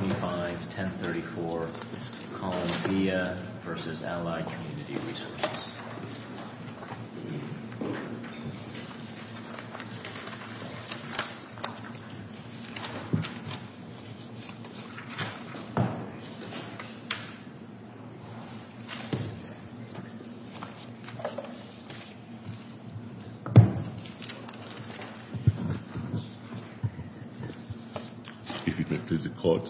251034, Coloniziaa v. Allied Community Resources, Inc. If you could please record.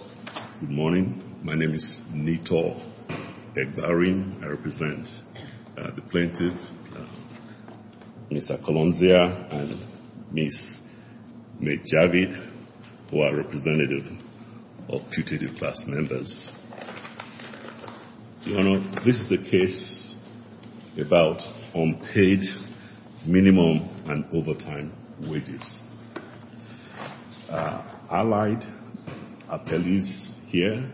Good morning. My name is Nitor Egbarim. I represent the plaintiff, Mr. Coloniziaa, and Ms. Meg Javid, who are representative of putative class members. Your Honor, this is a case about unpaid minimum and overtime wages. Allied appellees here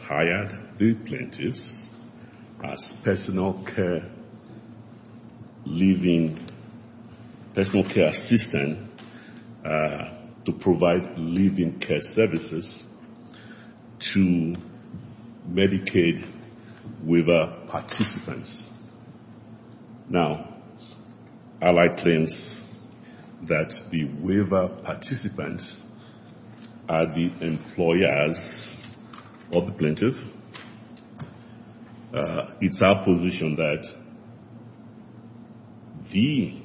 hired the plaintiffs as personal care living, personal care assistant, to provide living care services to Medicaid waiver participants. Now, Allied claims that the waiver participants are the employers of the plaintiff, it's our position that the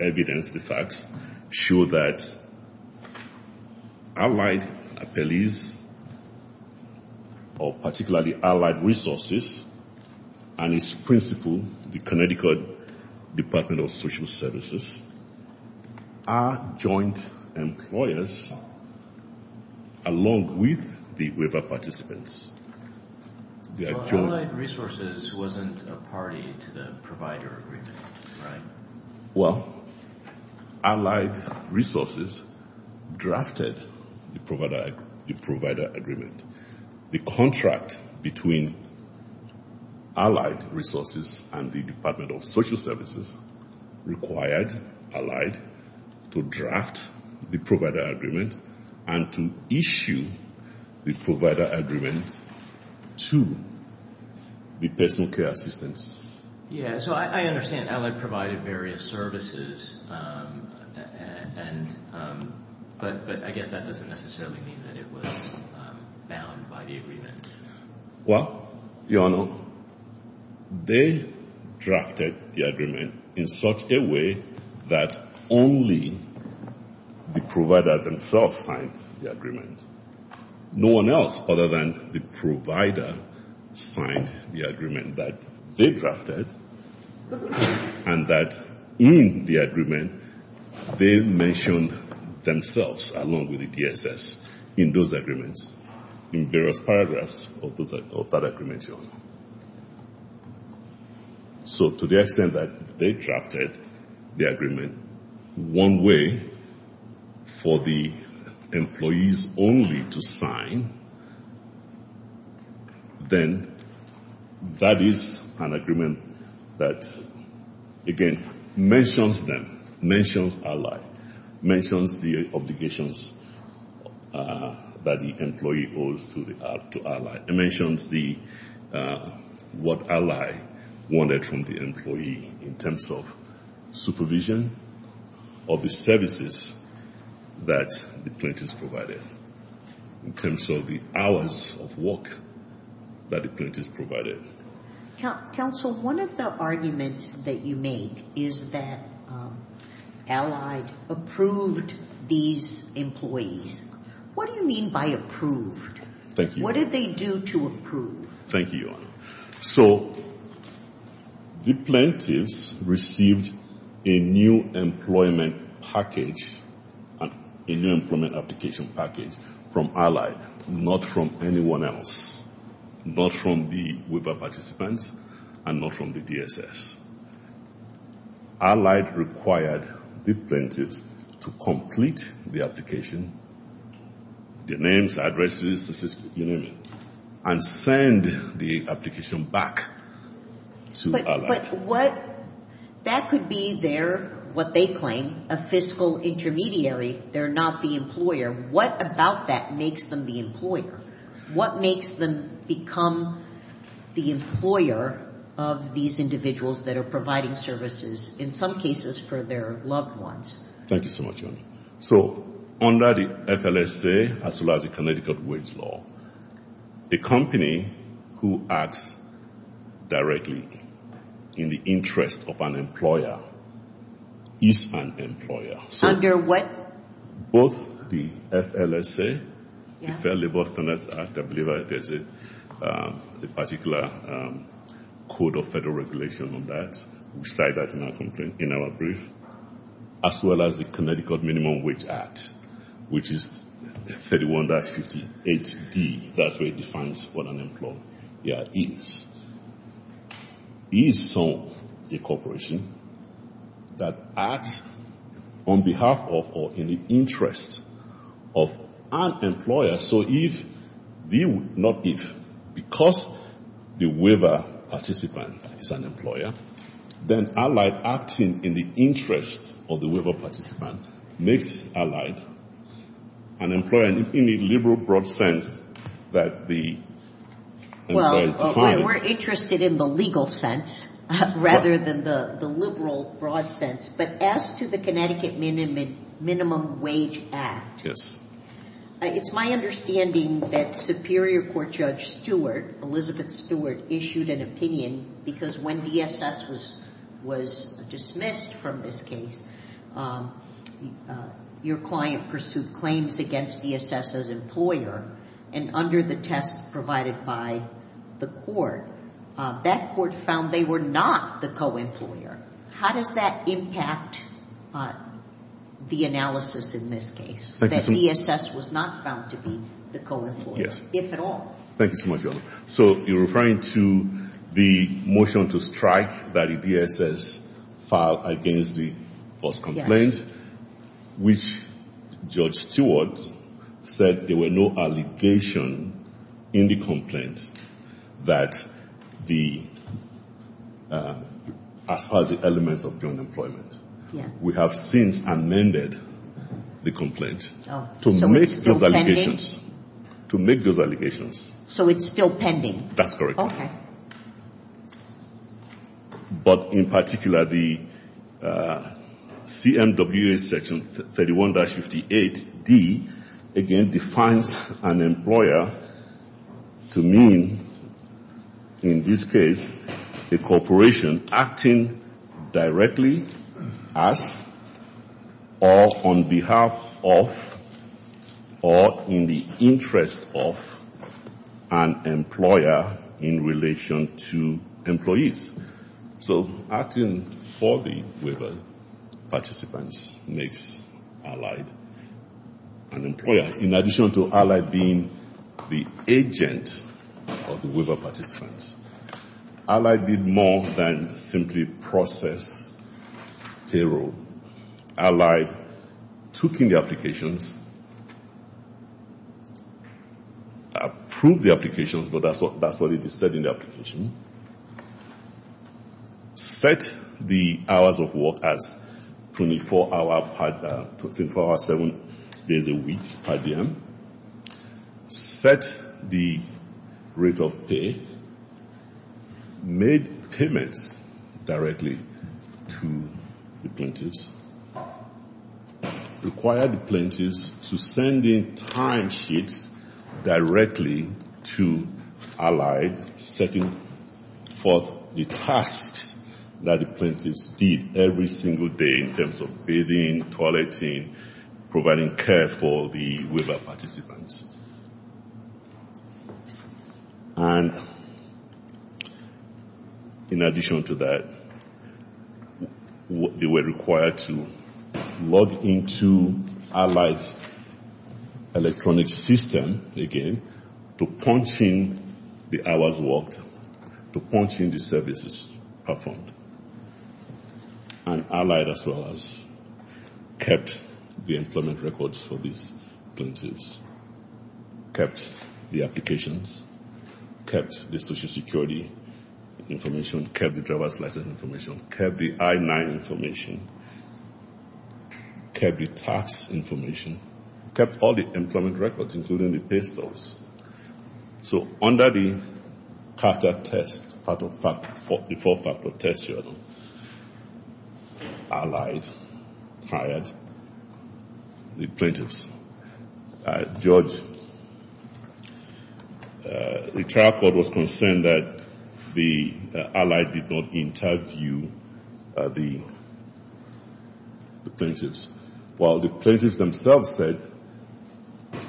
evidence, the facts, show that Allied appellees, or particularly Allied resources, and its principal, the Connecticut Department of Social Services, along with the waiver participants. Allied resources wasn't a party to the provider agreement, right? Well, Allied resources drafted the provider agreement. The contract between Allied resources and the Department of Social Services required Allied to draft the provider agreement and to issue the provider agreement to the personal care assistants. Yeah, so I understand Allied provided various services, but I doesn't necessarily mean that it was bound by the agreement. Well, Your Honor, they drafted the agreement in such a way that only the provider themselves signed the agreement. No one else, other than the provider, signed the agreement that they drafted and that in the agreement they mentioned themselves along with the DSS in those agreements, in various paragraphs of that agreement, Your Honor. So to the extent that they drafted the agreement one way for the employees only to sign, then that is an agreement that, again, mentions them, mentions Allied, mentions the obligations that the employee owes to Allied. It mentions what Allied wanted from the employee in terms of supervision of the services that the plaintiffs provided, in terms of the hours of work that the plaintiffs provided. Counsel, one of the arguments that you make is that Allied approved these employees. What do you mean by approved? Thank you. What did they do to approve? Thank you, Your Honor. So the plaintiffs received a new employment package, a new employment application package from Allied, not from anyone else. Not from the waiver participants and not from the DSS. Allied required the plaintiffs to complete the application, the names, addresses, you name it, and send the application back to Allied. But what, that could be their, what they claim, a fiscal intermediary. They're not the employer. What about that makes them the employer? What makes them become the employer of these individuals that are providing services, in some cases, for their loved ones? Thank you so much, Your Honor. So under the FLSA, as well as the Connecticut Wage Law, a company who acts directly in the interest of an employer is an employer. Under what? Both the FLSA, the Fair Labor Standards Act, I believe there's a particular code of federal regulation on that. We cite that in our brief. As well as the Connecticut Minimum Wage Act, which is 31-58D. That's where it defines what an employer is. Is so a corporation that acts on behalf of or in the interest of an employer so if, not if, because the waiver participant is an employer, then Allied acting in the interest of the waiver participant makes Allied an employer in the liberal broad sense that the employer is defined. Well, we're interested in the legal sense rather than the liberal broad sense. But as to the Connecticut Minimum Wage Act, you issued an opinion because when DSS was dismissed from this case, your client pursued claims against DSS as employer. And under the test provided by the court, that court found they were not the co-employer. How does that impact the analysis in this case? That DSS was not found to be the co-employer. Yes. If at all. Thank you so much, Your Honor. So you're referring to the motion to strike that DSS filed against the first complaint, which Judge Stewart said there were no allegations in the complaint that the, as far as the elements of joint employment. Yeah. We have since amended the complaint. To make those allegations. So it's still pending? That's correct. Okay. But in particular, the CMWA section 31-58D again defines an employer to mean, in this case, a corporation acting directly as or on behalf of or in the interest of an employer in relation to employees. So acting for the participants makes allied. In addition to allied being the agent of the waiver participants. Allied did more than simply process payroll. Allied took in the 24-hour, seven days a week per diem. Set the rate of pay. Made payments directly to the plaintiffs. Required the plaintiffs to send in timesheets directly to allied and setting forth the tasks that the plaintiffs did every single day in terms of bathing, toileting, providing care for the waiver participants. And in addition to that, they were the services performed. And allied as well as kept the employment records for these plaintiffs. Kept the applications. Kept the Social Security information. Kept the driver's license. Kept the carter test. Allied hired the plaintiffs. George, the trial court was concerned that the allied did not interview the plaintiffs. While the plaintiffs themselves said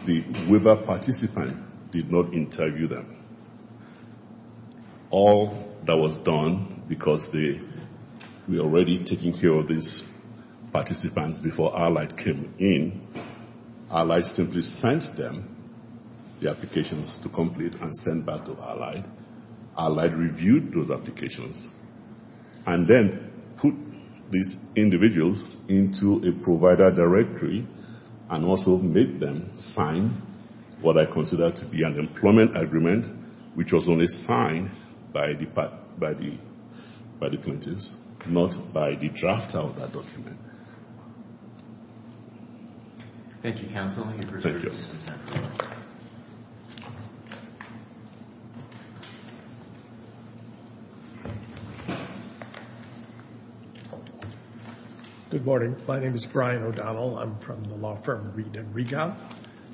the waiver participant did not interview them. All that was done because we were already taking care of these participants before allied came in. Allied simply sent them the applications to complete and sent back to allied. Allied reviewed those applications. And then put these individuals into a provider directory and also made them sign what I consider to be an employment agreement, which was only signed by the plaintiffs, not by the drafter of that document. Thank you, counsel. Good morning. My name is Brian O'Donnell. I'm from the law firm Reid & Rega,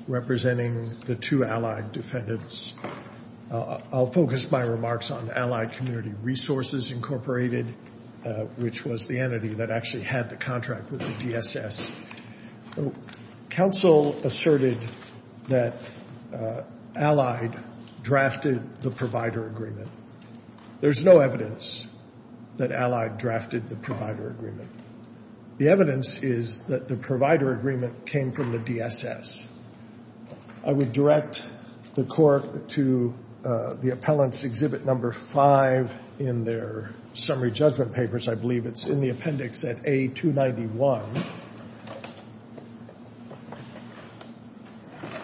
representing the two allied defendants. I'll focus my remarks on Allied Community Resources Incorporated, which was the entity that actually had the contract with the DSS. Counsel asserted that allied drafted the provider agreement. There's no evidence that allied drafted the provider agreement. The evidence is that the provider agreement came from the DSS. I would direct the court to the appellant's exhibit number 5 in their summary judgment papers. I believe it's in the appendix at A291.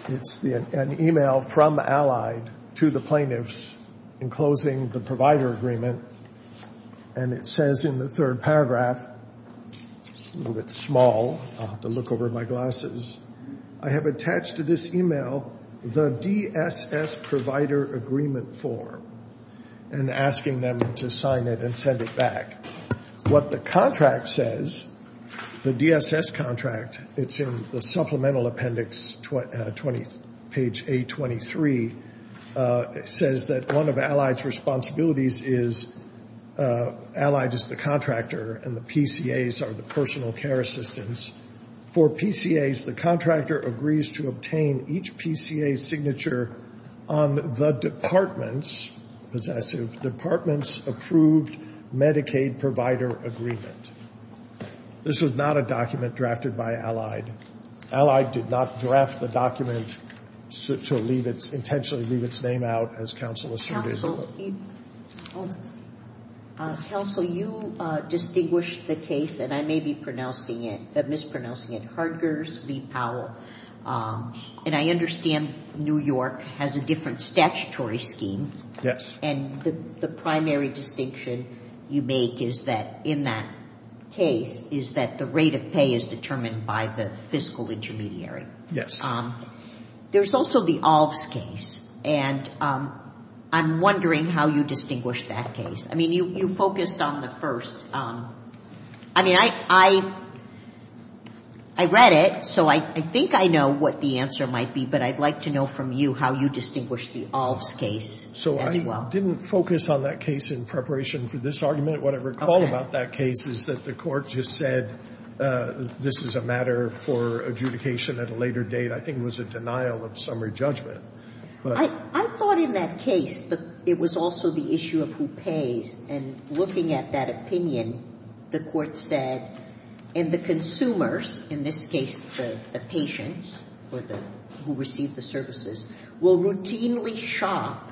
It's an email from allied to the plaintiffs enclosing the provider agreement. And it says in the third paragraph, it's a little bit small. I'll have to look over my glasses. I have attached to this email the DSS provider agreement form and asking them to sign it and send it back. What the contract says, the DSS contract, it's in the supplemental appendix, page A23, says that one of allied's responsibilities is allied is the contractor and the PCAs are the personal care assistants. For PCAs, the contractor agrees to obtain each PCA signature on the department's, possessive, department's approved Medicaid provider agreement. This was not a document drafted by allied. Allied did not draft the document to leave its, intentionally leave its name out, as counsel asserted. So, counsel, you distinguished the case, and I may be pronouncing it, mispronouncing it, Hardger's v. Powell. And I understand New York has a different statutory scheme. Yes. And the primary distinction you make is that in that case is that the rate of pay is determined by the fiscal intermediary. Yes. There's also the Alves case, and I'm wondering how you distinguish that case. I mean, you focused on the first. I mean, I read it, so I think I know what the answer might be, but I'd like to know from you how you distinguish the Alves case as well. I didn't focus on that case in preparation for this argument. What I recall about that case is that the Court just said this is a matter for adjudication at a later date. I think it was a denial of summary judgment. I thought in that case that it was also the issue of who pays. And looking at that opinion, the Court said, and the consumers, in this case the patients who receive the services, will routinely shop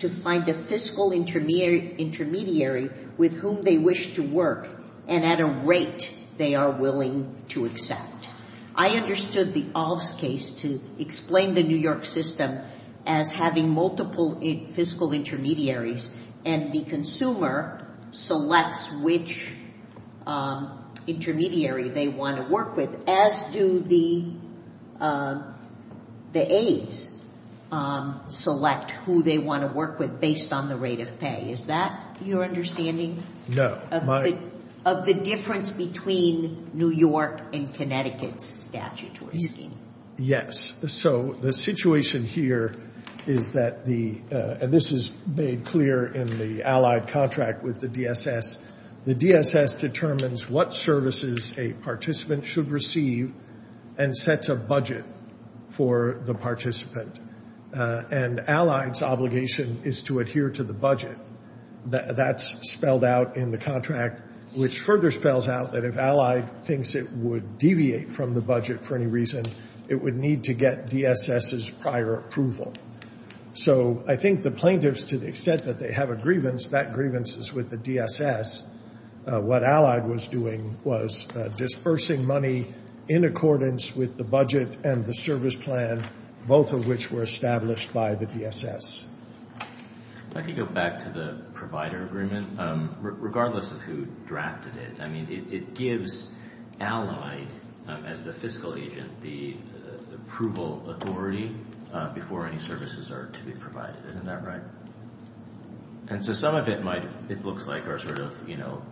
to find a fiscal intermediary with whom they wish to work and at a rate they are willing to accept. I understood the Alves case to explain the New York system as having multiple fiscal intermediaries, and the consumer selects which intermediary they want to work with, as do the aides select who they want to work with based on the rate of pay. Is that your understanding? No. Of the difference between New York and Connecticut's statutory scheme? Yes. So the situation here is that the, and this is made clear in the allied contract with the DSS, the DSS determines what services a participant should receive and sets a budget for the participant. And allied's obligation is to adhere to the budget. That's spelled out in the contract, which further spells out that if allied thinks it would deviate from the budget for any reason, it would need to get DSS's prior approval. So I think the plaintiffs, to the extent that they have a grievance, that grievance is with the DSS. What allied was doing was dispersing money in accordance with the budget and the service plan, both of which were established by the DSS. If I could go back to the provider agreement, regardless of who drafted it, I mean, it gives allied, as the fiscal agent, the approval authority before any services are to be provided. Isn't that right? And so some of it might, it looks like, are sort of, you know,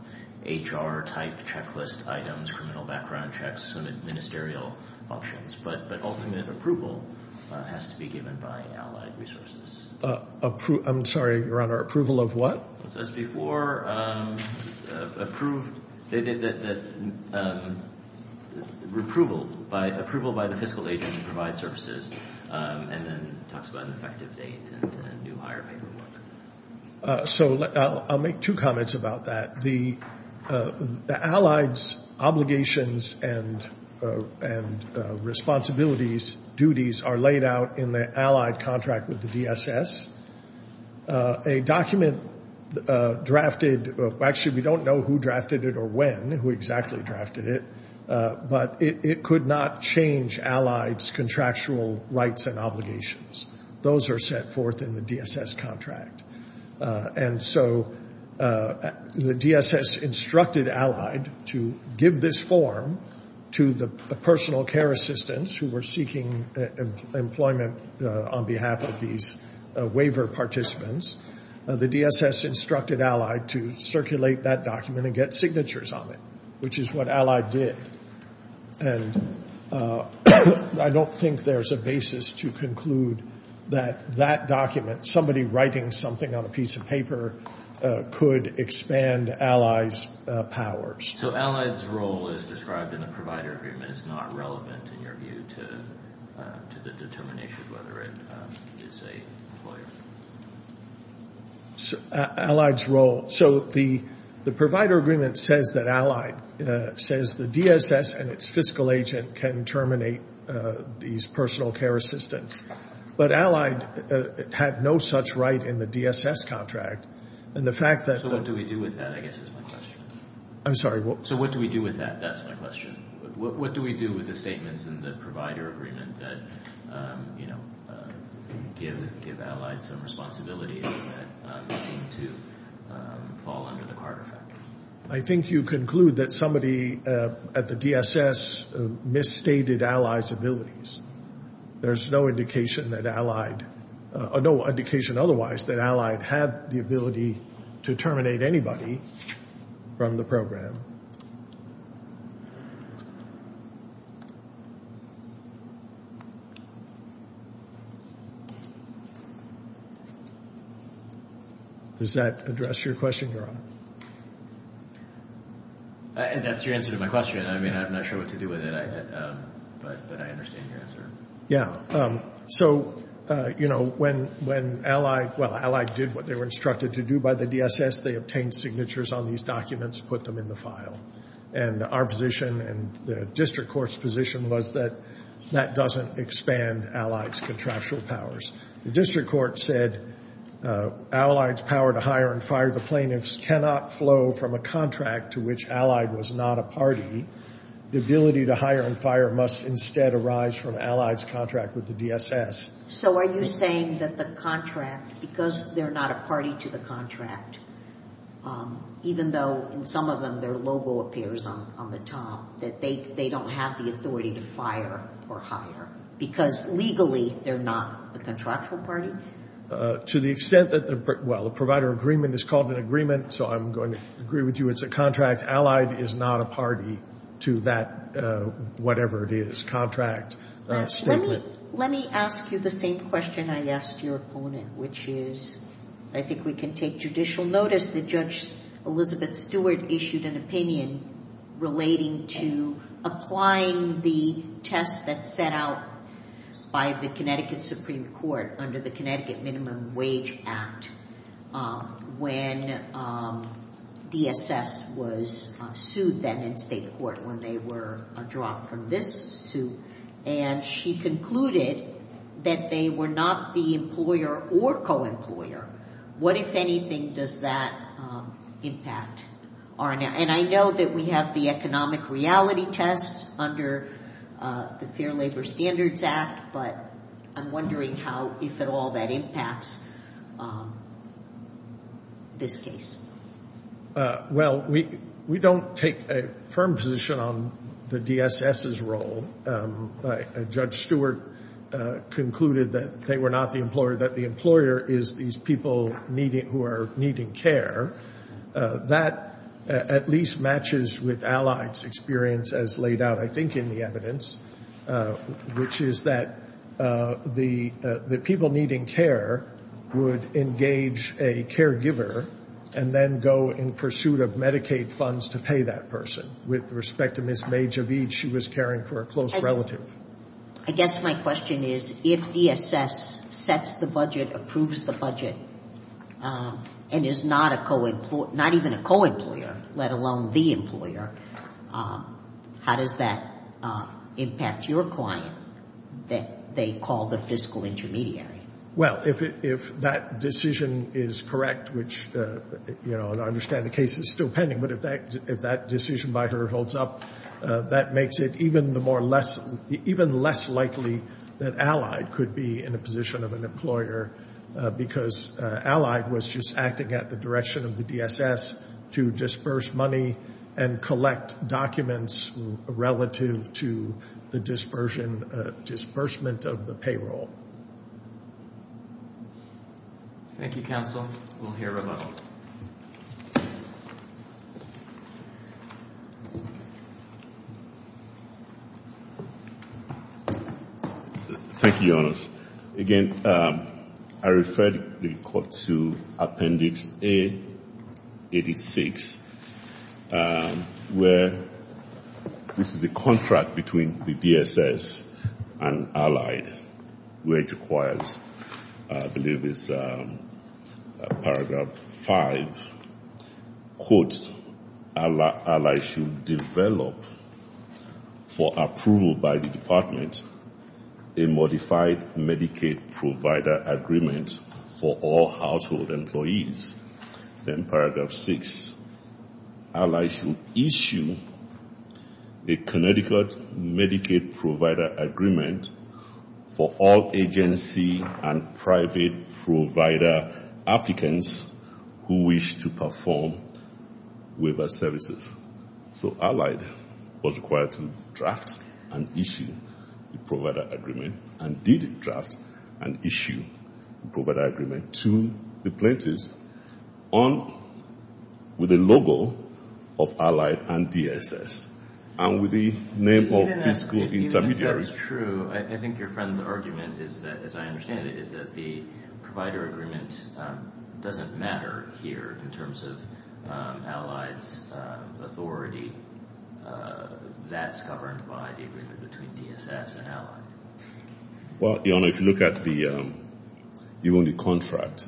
HR type checklist items, criminal background checks, sort of ministerial options. But ultimate approval has to be given by allied resources. I'm sorry, Your Honor, approval of what? It says before approval by the fiscal agent to provide services. And then it talks about an effective date and new hire paperwork. So I'll make two comments about that. The allied's obligations and responsibilities, duties, are laid out in the allied contract with the DSS. A document drafted, actually we don't know who drafted it or when, who exactly drafted it, but it could not change allied's contractual rights and obligations. Those are set forth in the DSS contract. And so the DSS instructed allied to give this form to the personal care assistants who were seeking employment on behalf of these waiver participants. The DSS instructed allied to circulate that document and get signatures on it, which is what allied did. And I don't think there's a basis to conclude that that document, somebody writing something on a piece of paper, could expand allied's powers. So allied's role is described in the provider agreement. It's not relevant, in your view, to the determination of whether it is a employer. Allied's role. So the provider agreement says that allied says the DSS and its fiscal agent can terminate these personal care assistants. But allied had no such right in the DSS contract. And the fact that- So what do we do with that, I guess, is my question. I'm sorry. So what do we do with that? That's my question. What do we do with the statements in the provider agreement that, you know, give allied some responsibility to fall under the Carter factor? I think you conclude that somebody at the DSS misstated allied's abilities. There's no indication that allied- no indication otherwise that allied had the ability to terminate anybody from the program. Does that address your question, Your Honor? That's your answer to my question. I mean, I'm not sure what to do with it, but I understand your answer. So, you know, when allied- well, allied did what they were instructed to do by the DSS. They obtained signatures on these documents, put them in the file. And our position and the district court's position was that that doesn't expand allied's contractual powers. The district court said allied's power to hire and fire the plaintiffs cannot flow from a contract to which allied was not a party. The ability to hire and fire must instead arise from allied's contract with the DSS. So are you saying that the contract- because they're not a party to the contract, even though in some of them their logo appears on the top, that they don't have the authority to fire or hire because legally they're not a contractual party? To the extent that the- well, the provider agreement is called an agreement, so I'm going to agree with you it's a contract. Allied is not a party to that whatever it is, contract statement. Let me ask you the same question I asked your opponent, which is I think we can take judicial notice that Judge Elizabeth Stewart issued an opinion relating to applying the test that's set out by the Connecticut Supreme Court under the Connecticut Minimum Wage Act when DSS was sued then in state court when they were dropped from this suit. And she concluded that they were not the employer or co-employer. What, if anything, does that impact? And I know that we have the economic reality test under the Fair Labor Standards Act, but I'm wondering how, if at all, that impacts this case. Well, we don't take a firm position on the DSS's role. Judge Stewart concluded that they were not the employer, that the employer is these people who are needing care. That at least matches with Allied's experience as laid out, I think, in the evidence, which is that the people needing care would engage a caregiver and then go in pursuit of Medicaid funds to pay that person. With respect to Ms. Magevich, she was caring for a close relative. I guess my question is, if DSS sets the budget, approves the budget, and is not a co-employer, not even a co-employer, let alone the employer, how does that impact your client that they call the fiscal intermediary? Well, if that decision is correct, which I understand the case is still pending, but if that decision by her holds up, that makes it even less likely that Allied could be in a position of an employer because Allied was just acting at the direction of the DSS to disperse money and collect documents relative to the disbursement of the payroll. Thank you, counsel. We'll hear from him. Thank you, Your Honor. Again, I referred the court to Appendix A-86, where this is a contract between the DSS and Allied, where it requires, I believe it's Paragraph 5, quote, Allied should develop for approval by the department a modified Medicaid provider agreement for all household employees. Then Paragraph 6, Allied should issue a Connecticut Medicaid provider agreement for all agency and private provider applicants who wish to perform waiver services. So Allied was required to draft and issue the provider agreement and did draft and issue the provider agreement to the plaintiffs with the logo of Allied and DSS and with the name of fiscal intermediary. Even if that's true, I think your friend's argument, as I understand it, is that the provider agreement doesn't matter here in terms of Allied's authority. That's governed by the agreement between DSS and Allied. Well, Your Honor, if you look at even the contract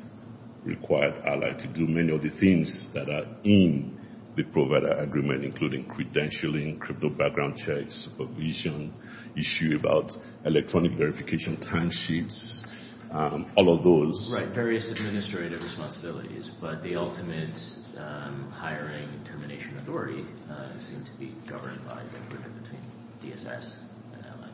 required Allied to do many of the things that are in the provider agreement, including credentialing, crypto background checks, supervision, issue about electronic verification timesheets, all of those. Right, various administrative responsibilities, but the ultimate hiring termination authority seemed to be governed by the agreement between DSS and Allied.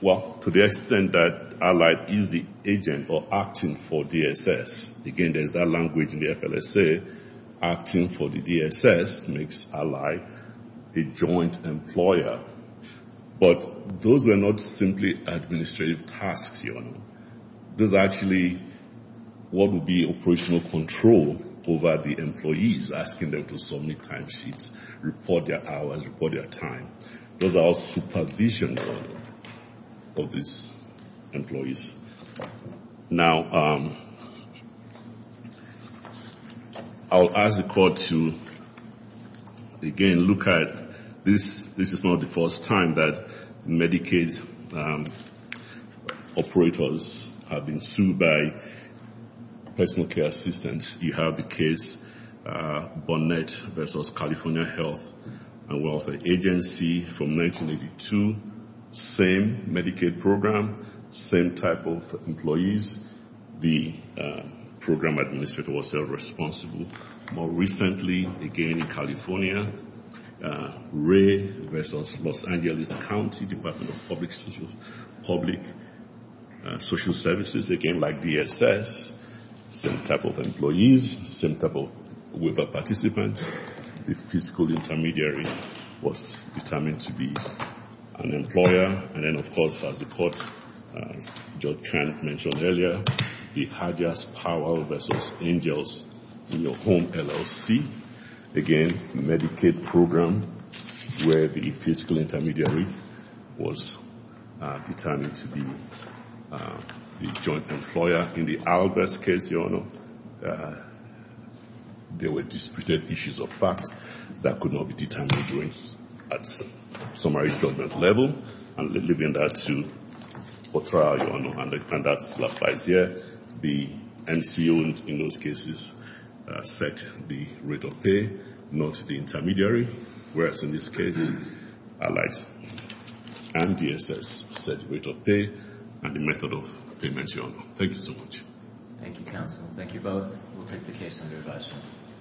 Well, to the extent that Allied is the agent or acting for DSS, again, there's that language in the FLSA, acting for the DSS makes Allied a joint employer. But those are not simply administrative tasks, Your Honor. Those are actually what would be operational control over the employees, asking them to submit timesheets, report their hours, report their time. Those are all supervision, Your Honor, of these employees. Now, I'll ask the court to, again, look at this. This is not the first time that Medicaid operators have been sued by personal care assistants. You have the case Bonnet versus California Health and Welfare Agency from 1982. Same Medicaid program, same type of employees. The program administrator was held responsible. More recently, again, in California, Ray versus Los Angeles County Department of Public Social Services, again, like DSS, same type of employees, same type of waiver participants. The fiscal intermediary was determined to be an employer. And then, of course, as the court mentioned earlier, the Hadjahs Powell versus Angels in your home LLC. Again, Medicaid program where the fiscal intermediary was determined to be a joint employer. In the Albers case, Your Honor, there were disputed issues of facts that could not be determined at summary judgment level. I'm leaving that to trial, Your Honor. And that applies here. The NCO in those cases set the rate of pay, not the intermediary, whereas in this case, like DSS, set rate of pay and the method of payment, Your Honor. Thank you so much. Thank you, counsel. Thank you both. We'll take the case under review.